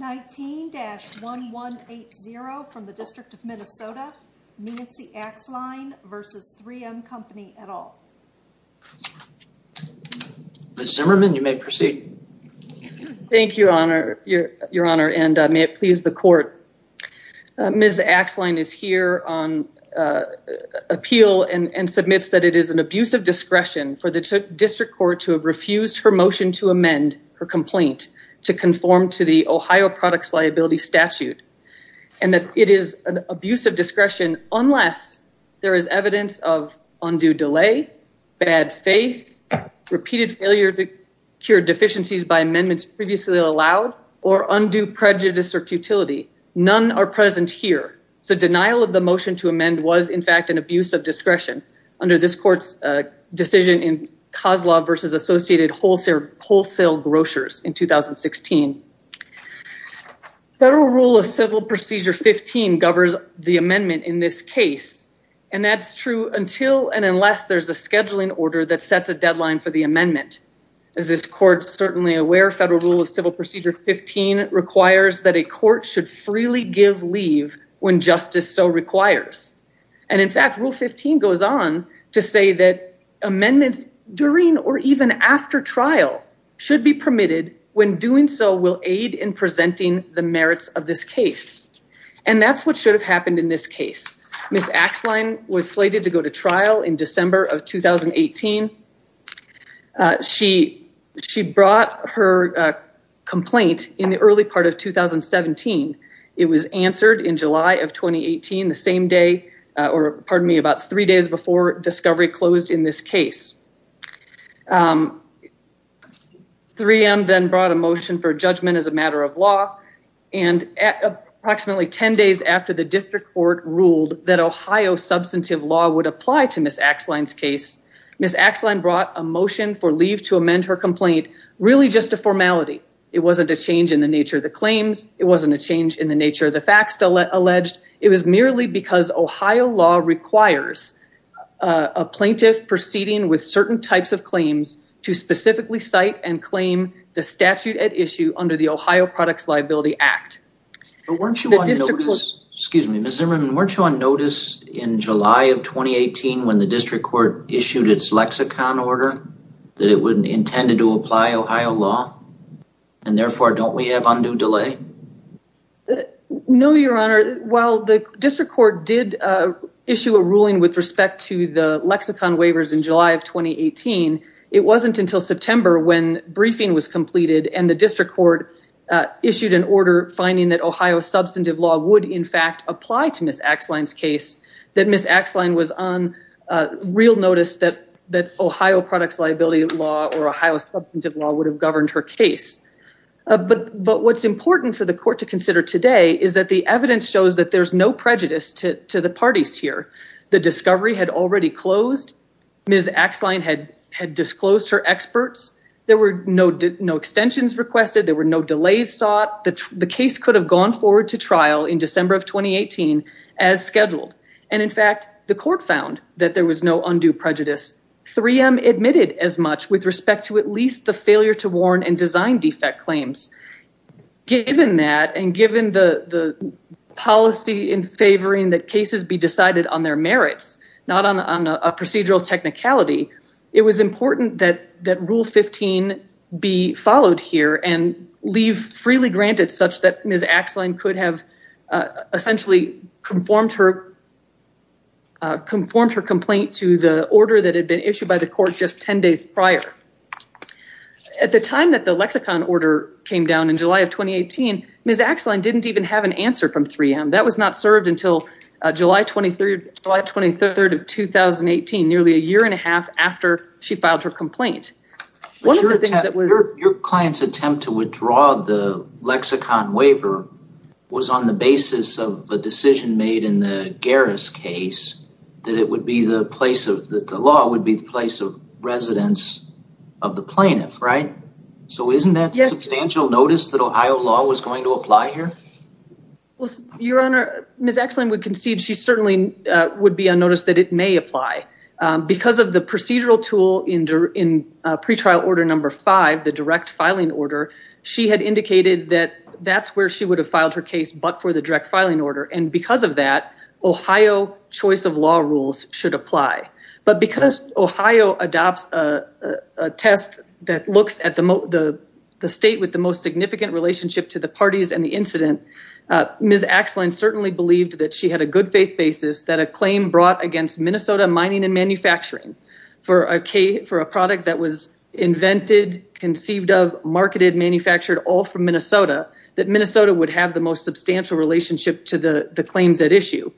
19-1180 from the District of Minnesota, Nancy Axline v. 3M Company et al. Ms. Zimmerman, you may proceed. Thank you, Your Honor, and may it please the Court. Ms. Axline is here on appeal and submits that it is an abuse of discretion for the Ohio Products Liability Statute and that it is an abuse of discretion unless there is evidence of undue delay, bad faith, repeated failure to cure deficiencies by amendments previously allowed, or undue prejudice or futility. None are present here, so denial of the motion to amend was in fact an abuse of discretion under this Court's decision in Kozlov v. Associated Wholesale Grocers in 2016. Federal Rule of Civil Procedure 15 governs the amendment in this case, and that's true until and unless there's a scheduling order that sets a deadline for the amendment. As this Court's certainly aware, Federal Rule of Civil Procedure 15 requires that a court should freely give leave when justice so requires. And in fact, Rule 15 goes on to say that amendments during or even after trial should be permitted when doing so will aid in presenting the merits of this case. And that's what should have happened in this case. Ms. Axline was slated to go to trial in December of 2018. She brought her complaint in the early part of 2017. It was answered in July of 2018, the same day, or pardon me, about three days before discovery closed in this case. 3M then brought a motion for judgment as a matter of law, and approximately 10 days after the District Court ruled that Ohio substantive law would apply to Ms. Axline's case, Ms. Axline brought a motion for leave to amend her complaint, really just a formality. It wasn't a change in the It was merely because Ohio law requires a plaintiff proceeding with certain types of claims to specifically cite and claim the statute at issue under the Ohio Products Liability Act. Excuse me, Ms. Zimmerman, weren't you on notice in July of 2018 when the District Court issued its lexicon order that it would intend to apply Ohio law, and therefore don't we have undue delay? No, Your Honor. While the District Court did issue a ruling with respect to the lexicon waivers in July of 2018, it wasn't until September when briefing was completed and the District Court issued an order finding that Ohio substantive law would in fact apply to Ms. Axline's case, that Ms. Axline was on real notice that Ohio products liability law or Ohio substantive law would have governed her case. But what's important for the court to consider today is that the evidence shows that there's no prejudice to the parties here. The discovery had already closed, Ms. Axline had disclosed her experts, there were no extensions requested, there were no delays sought, the case could have gone forward to trial in December of 2018 as scheduled. And in fact, the court found that there was no undue prejudice. 3M admitted as much with respect to at least the design defect claims. Given that, and given the policy in favoring that cases be decided on their merits, not on a procedural technicality, it was important that Rule 15 be followed here and leave freely granted such that Ms. Axline could have essentially conformed her complaint to the at the time that the lexicon order came down in July of 2018, Ms. Axline didn't even have an answer from 3M. That was not served until July 23rd of 2018, nearly a year and a half after she filed her complaint. Your client's attempt to withdraw the lexicon waiver was on the basis of a decision made in the Garris case that it would be the place of the law would be the place of residence of the plaintiff, right? So isn't that a substantial notice that Ohio law was going to apply here? Your Honor, Ms. Axline would concede she certainly would be unnoticed that it may apply. Because of the procedural tool in pretrial order number five, the direct filing order, she had indicated that that's where she would have filed her case but for the direct adopt a test that looks at the state with the most significant relationship to the parties and the incident, Ms. Axline certainly believed that she had a good faith basis that a claim brought against Minnesota Mining and Manufacturing for a product that was invented, conceived of, marketed, manufactured all from Minnesota, that Minnesota would have the most substantial relationship to the claims at issue.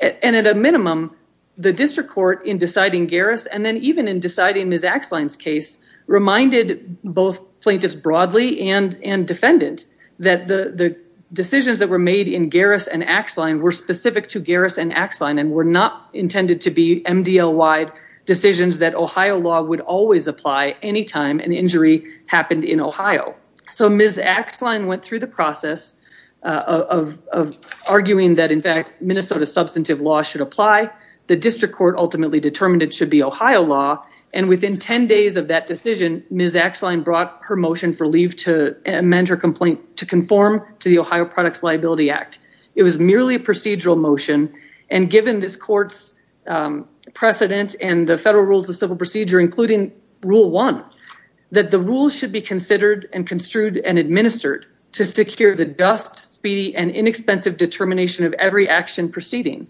And at a minimum, the district court in deciding Garris and then even in deciding Ms. Axline's case reminded both plaintiffs broadly and defendant that the decisions that were made in Garris and Axline were specific to Garris and Axline and were not intended to be MDL-wide decisions that Ohio law would always apply any time an injury happened in Ohio. So Ms. Axline went through the process of arguing that in fact Minnesota substantive law should apply. The district court ultimately determined it should be Ohio law and within 10 days of that decision, Ms. Axline brought her motion for leave to amend her complaint to conform to the Ohio Products Liability Act. It was merely a procedural motion and given this court's precedent and the federal rules of civil procedure, including rule one, that the rules should be considered and construed and administered to secure the dust, speedy, and inexpensive determination of every action proceeding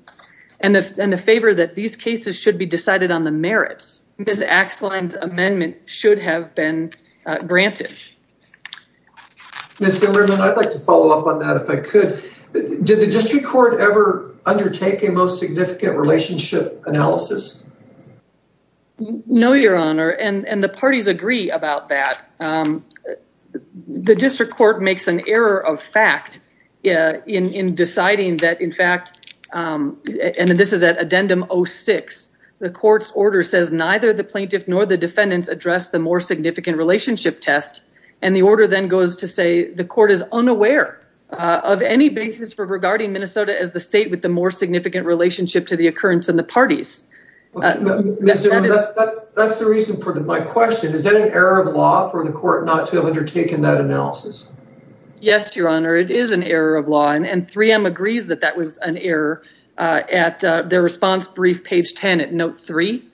and the favor that these cases should be decided on the merits. Ms. Axline's amendment should have been granted. Ms. Hillerman, I'd like to follow up on that if I could. Did the district court ever undertake a most significant relationship analysis? No, your honor, and the parties agree about that. The district court makes an error of fact in deciding that in fact, and this is at addendum 06, the court's order says neither the plaintiff nor the defendants addressed the more significant relationship test and the order then goes to say the court is unaware of any basis for regarding Minnesota as the state with the more significant relationship to the occurrence in the parties. That's the reason for my question. Is that an error of law for the court not to have undertaken that analysis? Yes, your honor, it is an error of law and 3M agrees that that was an error at their response brief page 10 at note three.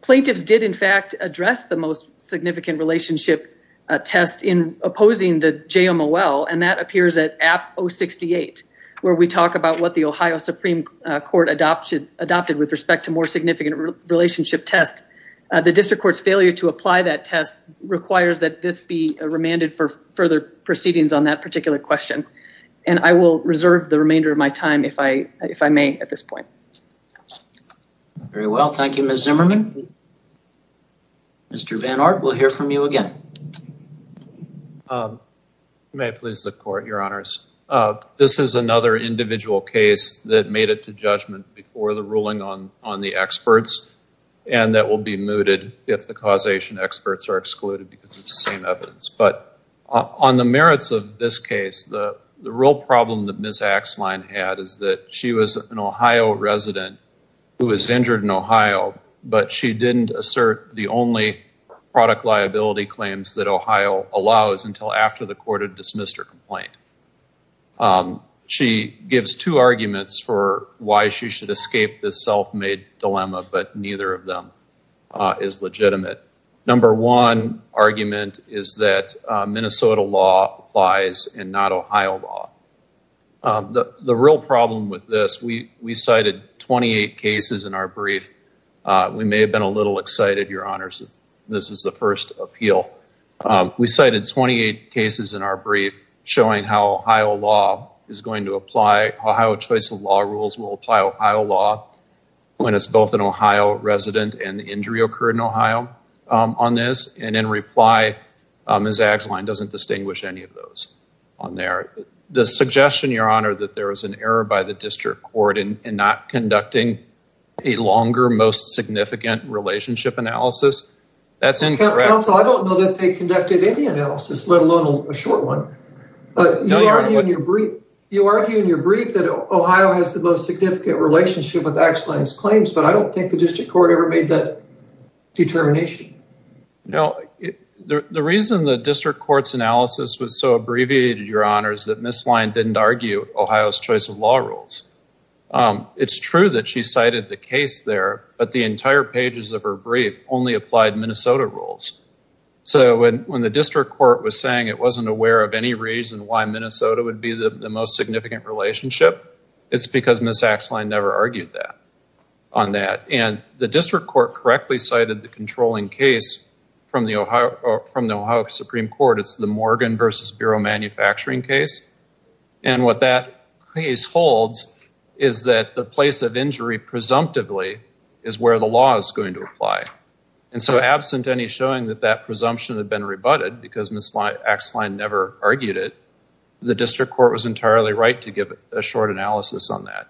Plaintiffs did in fact address the most significant relationship test in opposing the JMOL and that appears at app 068 where we talk about what the Ohio Supreme Court adopted with respect to more requires that this be remanded for further proceedings on that particular question, and I will reserve the remainder of my time if I may at this point. Very well, thank you, Ms. Zimmerman. Mr. Van Aert, we'll hear from you again. You may please the court, your honors. This is another individual case that made it to judgment before the ruling on the experts and that will be mooted if the causation experts are excluded because it's the same evidence, but on the merits of this case, the real problem that Ms. Axline had is that she was an Ohio resident who was injured in Ohio, but she didn't assert the only product liability claims that Ohio allows until after the court had dismissed her complaint. She gives two escape this self-made dilemma, but neither of them is legitimate. Number one argument is that Minnesota law applies and not Ohio law. The real problem with this, we cited 28 cases in our brief. We may have been a little excited, your honors, this is the first appeal. We cited 28 cases in showing how Ohio law is going to apply. Ohio choice of law rules will apply Ohio law when it's both an Ohio resident and the injury occurred in Ohio on this and in reply, Ms. Axline doesn't distinguish any of those on there. The suggestion, your honor, that there was an error by the district court in not conducting a longer, most significant relationship analysis, that's incorrect. Counsel, I don't know that they conducted any analysis, let alone a short one. You argue in your brief that Ohio has the most significant relationship with Axline's claims, but I don't think the district court ever made that determination. No, the reason the district court's analysis was so abbreviated, your honors, that Ms. Line didn't argue Ohio's choice of law rules. It's true that she cited the case there, but the entire pages of her brief only applied Minnesota rules. When the district court was saying it wasn't aware of any reason why Minnesota would be the most significant relationship, it's because Ms. Axline never argued on that. The district court correctly cited the controlling case from the Ohio Supreme Court. It's the Morgan versus manufacturing case. What that case holds is that the place of injury presumptively is where the law is going to apply. Absent any showing that that presumption had been rebutted because Ms. Axline never argued it, the district court was entirely right to give a short analysis on that.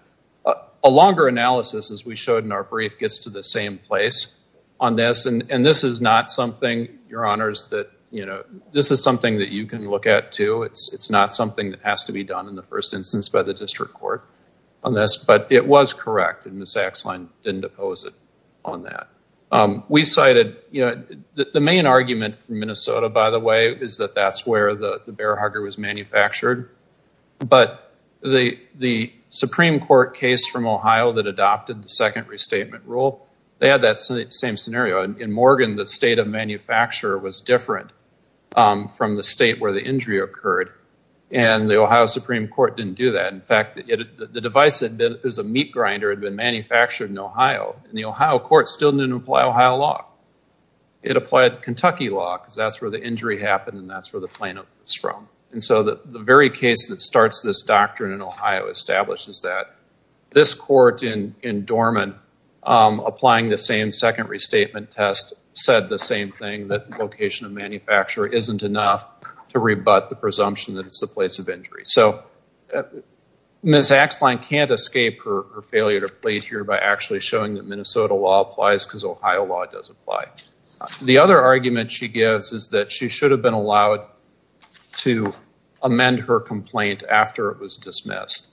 A longer analysis, as we showed in our brief, gets to the same place on this. This is your honors, this is something that you can look at, too. It's not something that has to be done in the first instance by the district court on this, but it was correct and Ms. Axline didn't oppose it on that. The main argument from Minnesota, by the way, is that that's where the bear hugger was manufactured, but the Supreme Court case from Ohio that adopted the second restatement test was different from the state where the injury occurred, and the Ohio Supreme Court didn't do that. In fact, the device that is a meat grinder had been manufactured in Ohio, and the Ohio court still didn't apply Ohio law. It applied Kentucky law because that's where the injury happened and that's where the plaintiff was from. The very case that starts this doctrine in Ohio establishes that. This court in Dorman, applying the same second restatement test, said the same thing, that the location of the manufacturer isn't enough to rebut the presumption that it's the place of injury. Ms. Axline can't escape her failure to plead here by actually showing that Minnesota law applies because Ohio law does apply. The other argument she gives is that she should have been allowed to amend her complaint after it was dismissed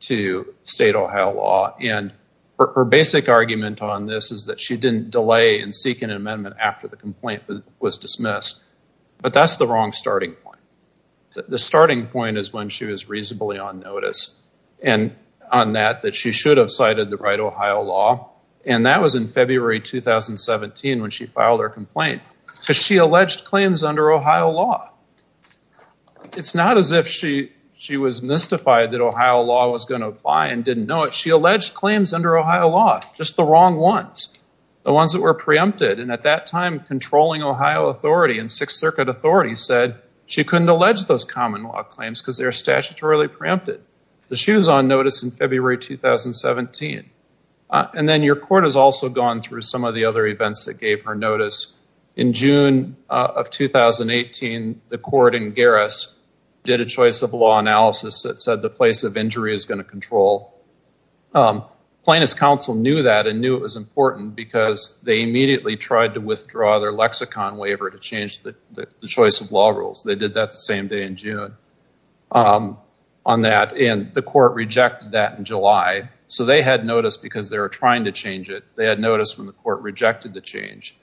to state Ohio law, and her basic argument on this is that she didn't delay in seeking an amendment after the complaint was dismissed, but that's the wrong starting point. The starting point is when she was reasonably on notice, and on that, that she should have cited the right Ohio law, and that was in February 2017 when she filed her complaint, because she alleged claims under Ohio law. It's not as if she was mystified that Ohio law was going to apply and didn't know it. She alleged claims under Ohio law, just the wrong ones, the ones that were preempted, and at that time, controlling Ohio authority and Sixth Circuit authority said she couldn't allege those common law claims because they were statutorily preempted. She was on notice in February 2017, and then your court has also gone through some of the other events that gave her notice. In June of 2018, the court in Garris did a choice of law analysis that said the place of injury is going to control. Plaintiff's counsel knew that and knew it was important because they immediately tried to withdraw their lexicon waiver to change the choice of law rules. They did that the same day in June on that, and the court rejected that in July, so they had notice because they were the change.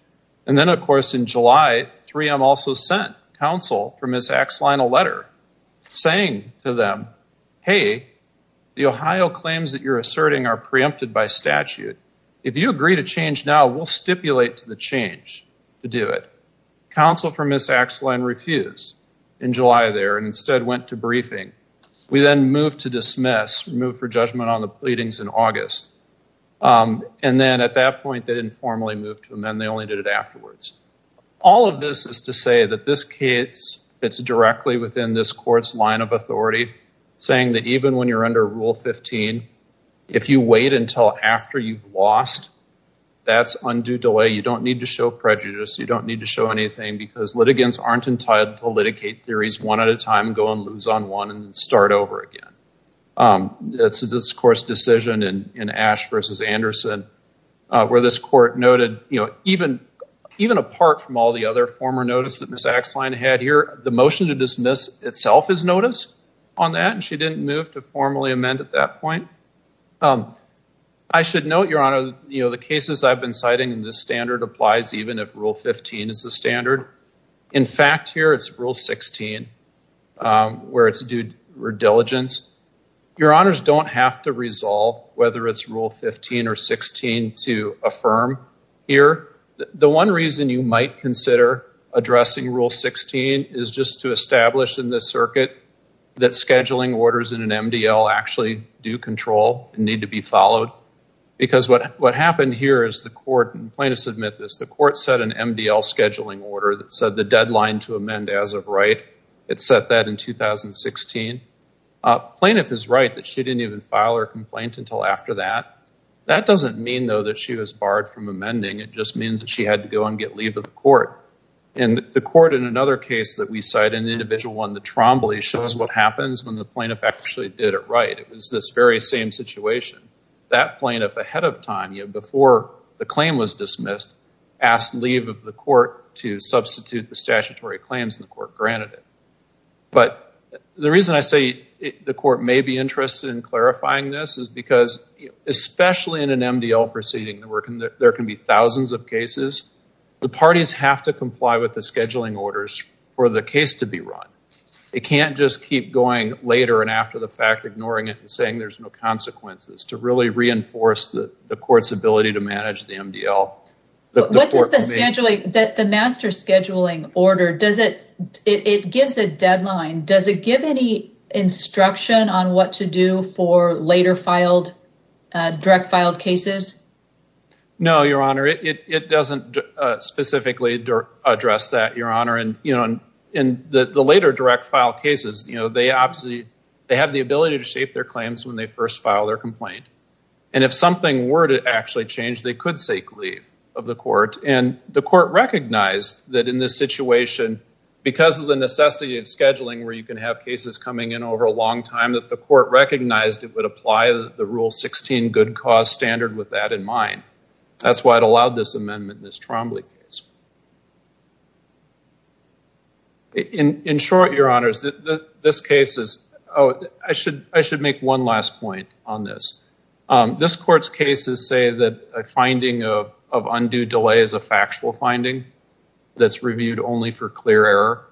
And then, of course, in July, 3M also sent counsel for Ms. Axeline a letter saying to them, hey, the Ohio claims that you're asserting are preempted by statute. If you agree to change now, we'll stipulate to the change to do it. Counsel for Ms. Axeline refused in July there and instead went to briefing. We then moved to dismiss, moved for judgment on the move to amend. They only did it afterwards. All of this is to say that this case fits directly within this court's line of authority, saying that even when you're under Rule 15, if you wait until after you've lost, that's undue delay. You don't need to show prejudice. You don't need to show anything because litigants aren't entitled to litigate theories one at a time, go and lose on and start over again. It's a discourse decision in Ash versus Anderson where this court noted, you know, even apart from all the other former notice that Ms. Axeline had here, the motion to dismiss itself is notice on that, and she didn't move to formally amend at that point. I should note, Your Honor, you know, the cases I've been citing in this standard applies even if Rule 15 is the standard. In fact, here it's Rule 16 where it's due diligence. Your Honors don't have to resolve whether it's Rule 15 or 16 to affirm here. The one reason you might consider addressing Rule 16 is just to establish in this circuit that scheduling orders in an MDL actually do control and need to be followed because what happened here is the court, and plaintiffs admit this, the court set an MDL scheduling order that said the deadline to amend as of right. It set that in 2016. Plaintiff is right that she didn't even file her complaint until after that. That doesn't mean though that she was barred from amending. It just means that she had to go and get leave of the court, and the court in another case that we cite, an individual one, the Trombley, shows what happens when the plaintiff actually did it right. It was this very same situation. That plaintiff ahead of time, before the claim was dismissed, asked leave of the court to substitute the statutory claims and the court granted it. But the reason I say the court may be interested in clarifying this is because, especially in an MDL proceeding, there can be thousands of cases. The parties have to comply with the scheduling orders for the case to be run. It can't just keep going later and after the fact, ignoring it and saying there's no consequences, to really reinforce the court's ability to manage the MDL. What does the scheduling, the master scheduling order, does it, it gives a deadline. Does it give any instruction on what to do for later filed, direct filed cases? No, your honor. It doesn't specifically address that, your honor, and you know, in the later direct filed cases, they have the ability to shape their claims when they first file their complaint. And if something were to actually change, they could seek leave of the court and the court recognized that in this situation, because of the necessity of scheduling where you can have cases coming in over a long time, that the court recognized it would apply the rule 16 good cause standard with that in mind. That's why it allowed this amendment in this Trombley case. In short, your honors, this case is, oh, I should make one last point on this. This court's cases say that a finding of undue delay is a factual finding that's reviewed only for clear error.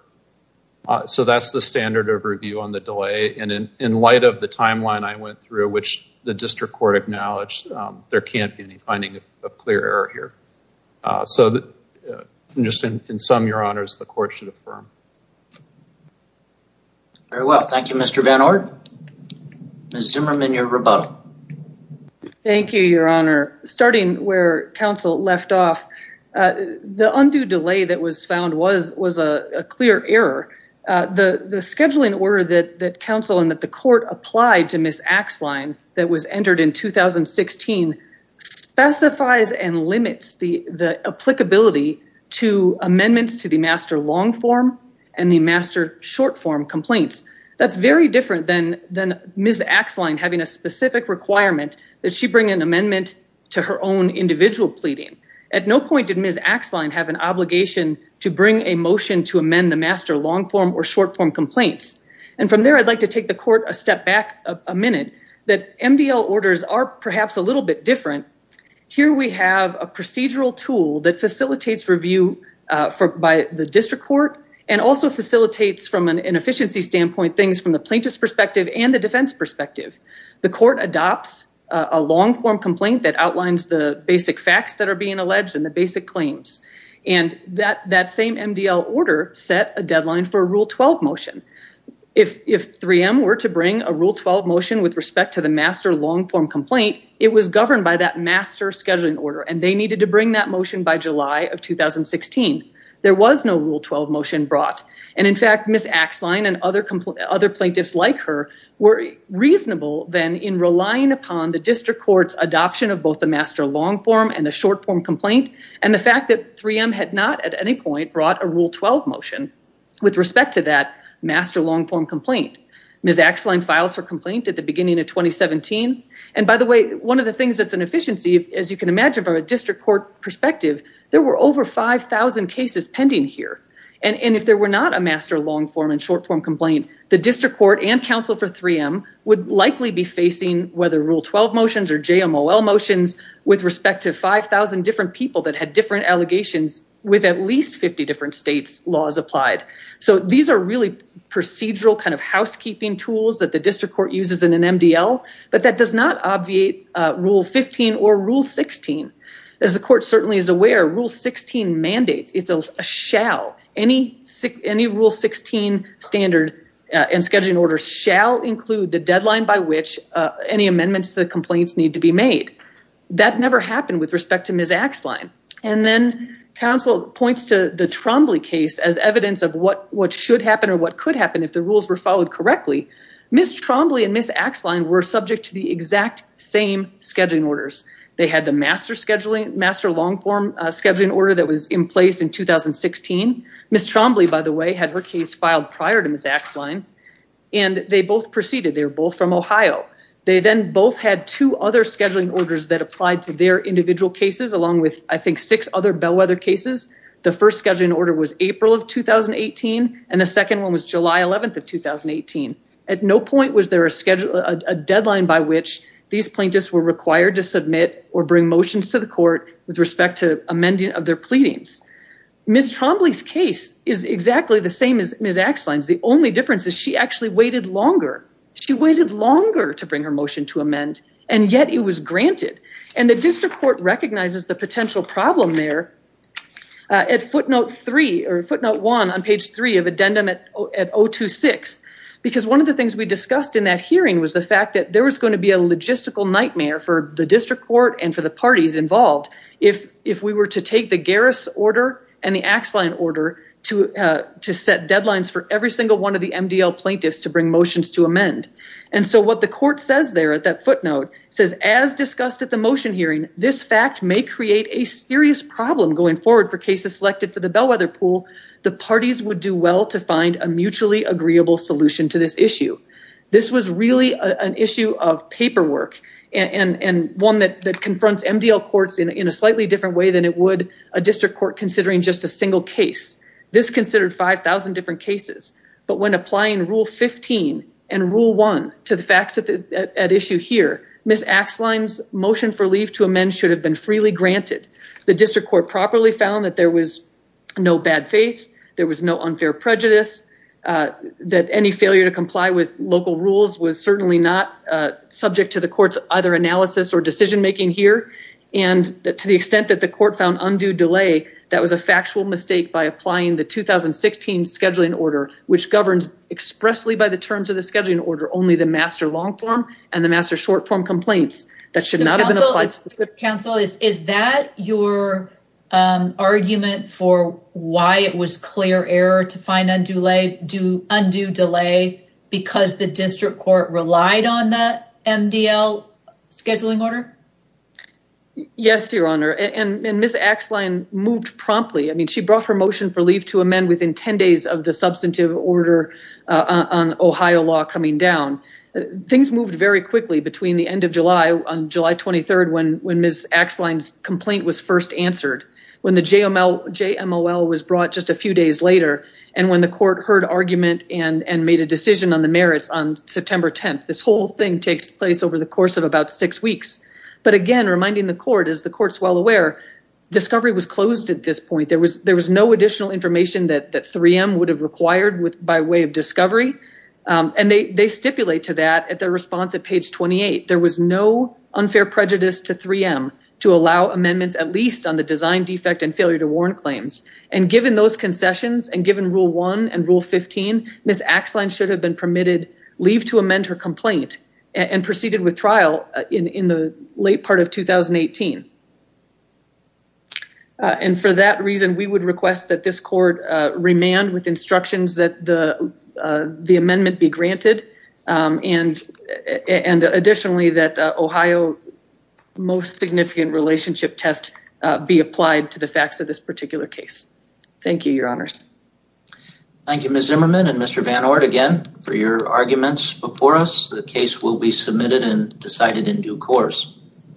So that's the standard of review on the delay. And in light of the timeline I went through, which the district court acknowledged, there can't be any finding of clear error here. So just in sum, your honors, the court should affirm. Very well. Thank you, Mr. Van Orde. Ms. Zimmerman, your rebuttal. Thank you, your honor. Starting where counsel left off, the undue delay that was found was a clear error. The scheduling order that counsel and that the court applied to Ms. Axline that was entered in 2016 specifies and limits the applicability to amendments to the master long form and the master short form complaints. That's very different than Ms. Axline having a specific requirement that she bring an amendment to her own individual pleading. At no point did Ms. Axline have an obligation to bring a motion to amend the master long form or short form complaints. And from there I'd like to take the court a step back a minute that MDL orders are perhaps a little bit different. Here we have a procedural tool that facilitates review by the district court and also facilitates from an efficiency standpoint things from the plaintiff's perspective and the defense perspective. The court adopts a long form complaint that outlines the basic facts that are being alleged and the basic claims. And that same MDL order set a deadline for a rule 12 motion. If 3M were to bring a rule 12 motion with respect to the master long form complaint it was governed by that master scheduling order and they needed to bring that motion by July of 2016. There was no rule 12 motion brought and in fact Ms. Axline and other plaintiffs like her were reasonable then in relying upon the district court's adoption of both the master long form and the short form complaint and the fact that 3M had not at any point brought a rule 12 motion with respect to master long form complaint. Ms. Axline files her complaint at the beginning of 2017. And by the way one of the things that's an efficiency as you can imagine from a district court perspective there were over 5,000 cases pending here. And if there were not a master long form and short form complaint the district court and counsel for 3M would likely be facing whether rule 12 motions or JMOL motions with respect to 5,000 different people that had allegations with at least 50 different states laws applied. So these are really procedural kind of housekeeping tools that the district court uses in an MDL but that does not obviate rule 15 or rule 16. As the court certainly is aware rule 16 mandates it's a shall any rule 16 standard and scheduling order shall include the deadline by which any amendments to the complaints need to be made. That never happened with respect to Ms. Axline. And then counsel points to the Trombley case as evidence of what should happen or what could happen if the rules were followed correctly. Ms. Trombley and Ms. Axline were subject to the exact same scheduling orders. They had the master scheduling master long form scheduling order that was in place in 2016. Ms. Trombley by the way had her case filed prior to Ms. Axline and they both proceeded. They were from Ohio. They then both had two other scheduling orders that applied to their individual cases along with I think six other bellwether cases. The first scheduling order was April of 2018 and the second one was July 11th of 2018. At no point was there a schedule a deadline by which these plaintiffs were required to submit or bring motions to the court with respect to amending of their pleadings. Ms. Trombley's case is exactly the same as Ms. Axline's. The only difference is she actually waited longer. She waited longer to bring her motion to amend and yet it was granted. And the district court recognizes the potential problem there at footnote three or footnote one on page three of addendum at 026 because one of the things we discussed in that hearing was the fact that there was going to be a logistical nightmare for the district court and for the parties involved if we were to take the Garris order and the Axline order to set deadlines for every single one of the MDL plaintiffs to bring motions to amend. And so what the court says there at that footnote says as discussed at the motion hearing, this fact may create a serious problem going forward for cases selected for the bellwether pool. The parties would do well to find a mutually agreeable solution to this issue. This was really an issue of paperwork and one that confronts MDL courts in a slightly different way than it would a district court considering just a single case. This considered 5,000 different cases. But when applying rule 15 and rule one to the facts at issue here, Ms. Axline's motion for leave to amend should have been freely granted. The district court properly found that there was no bad faith, there was no unfair prejudice, that any failure to comply with local rules was certainly not subject to the court's either analysis or decision making here. And to the extent that the court found undue delay, that was a factual mistake by applying the 2016 scheduling order, which governs expressly by the terms of the scheduling order only the master long-form and the master short-form complaints. So counsel, is that your argument for why it was clear error to find undue delay because the she brought her motion for leave to amend within 10 days of the substantive order on Ohio law coming down. Things moved very quickly between the end of July, on July 23rd, when Ms. Axline's complaint was first answered, when the JML was brought just a few days later, and when the court heard argument and made a decision on the merits on September 10th. This whole thing takes place over the course of about six weeks. But again, reminding the court as the point, there was no additional information that 3M would have required by way of discovery. And they stipulate to that at their response at page 28, there was no unfair prejudice to 3M to allow amendments, at least on the design defect and failure to warrant claims. And given those concessions and given rule one and rule 15, Ms. Axline should have been permitted leave to amend her complaint and proceeded with trial in the late part of 2018. And for that reason, we would request that this court remand with instructions that the the amendment be granted. And additionally, that Ohio's most significant relationship test be applied to the facts of this particular case. Thank you, your honors. Thank you, Ms. Zimmerman and Mr. Van Oort again for your arguments before us. The case will be submitted and decided in due course.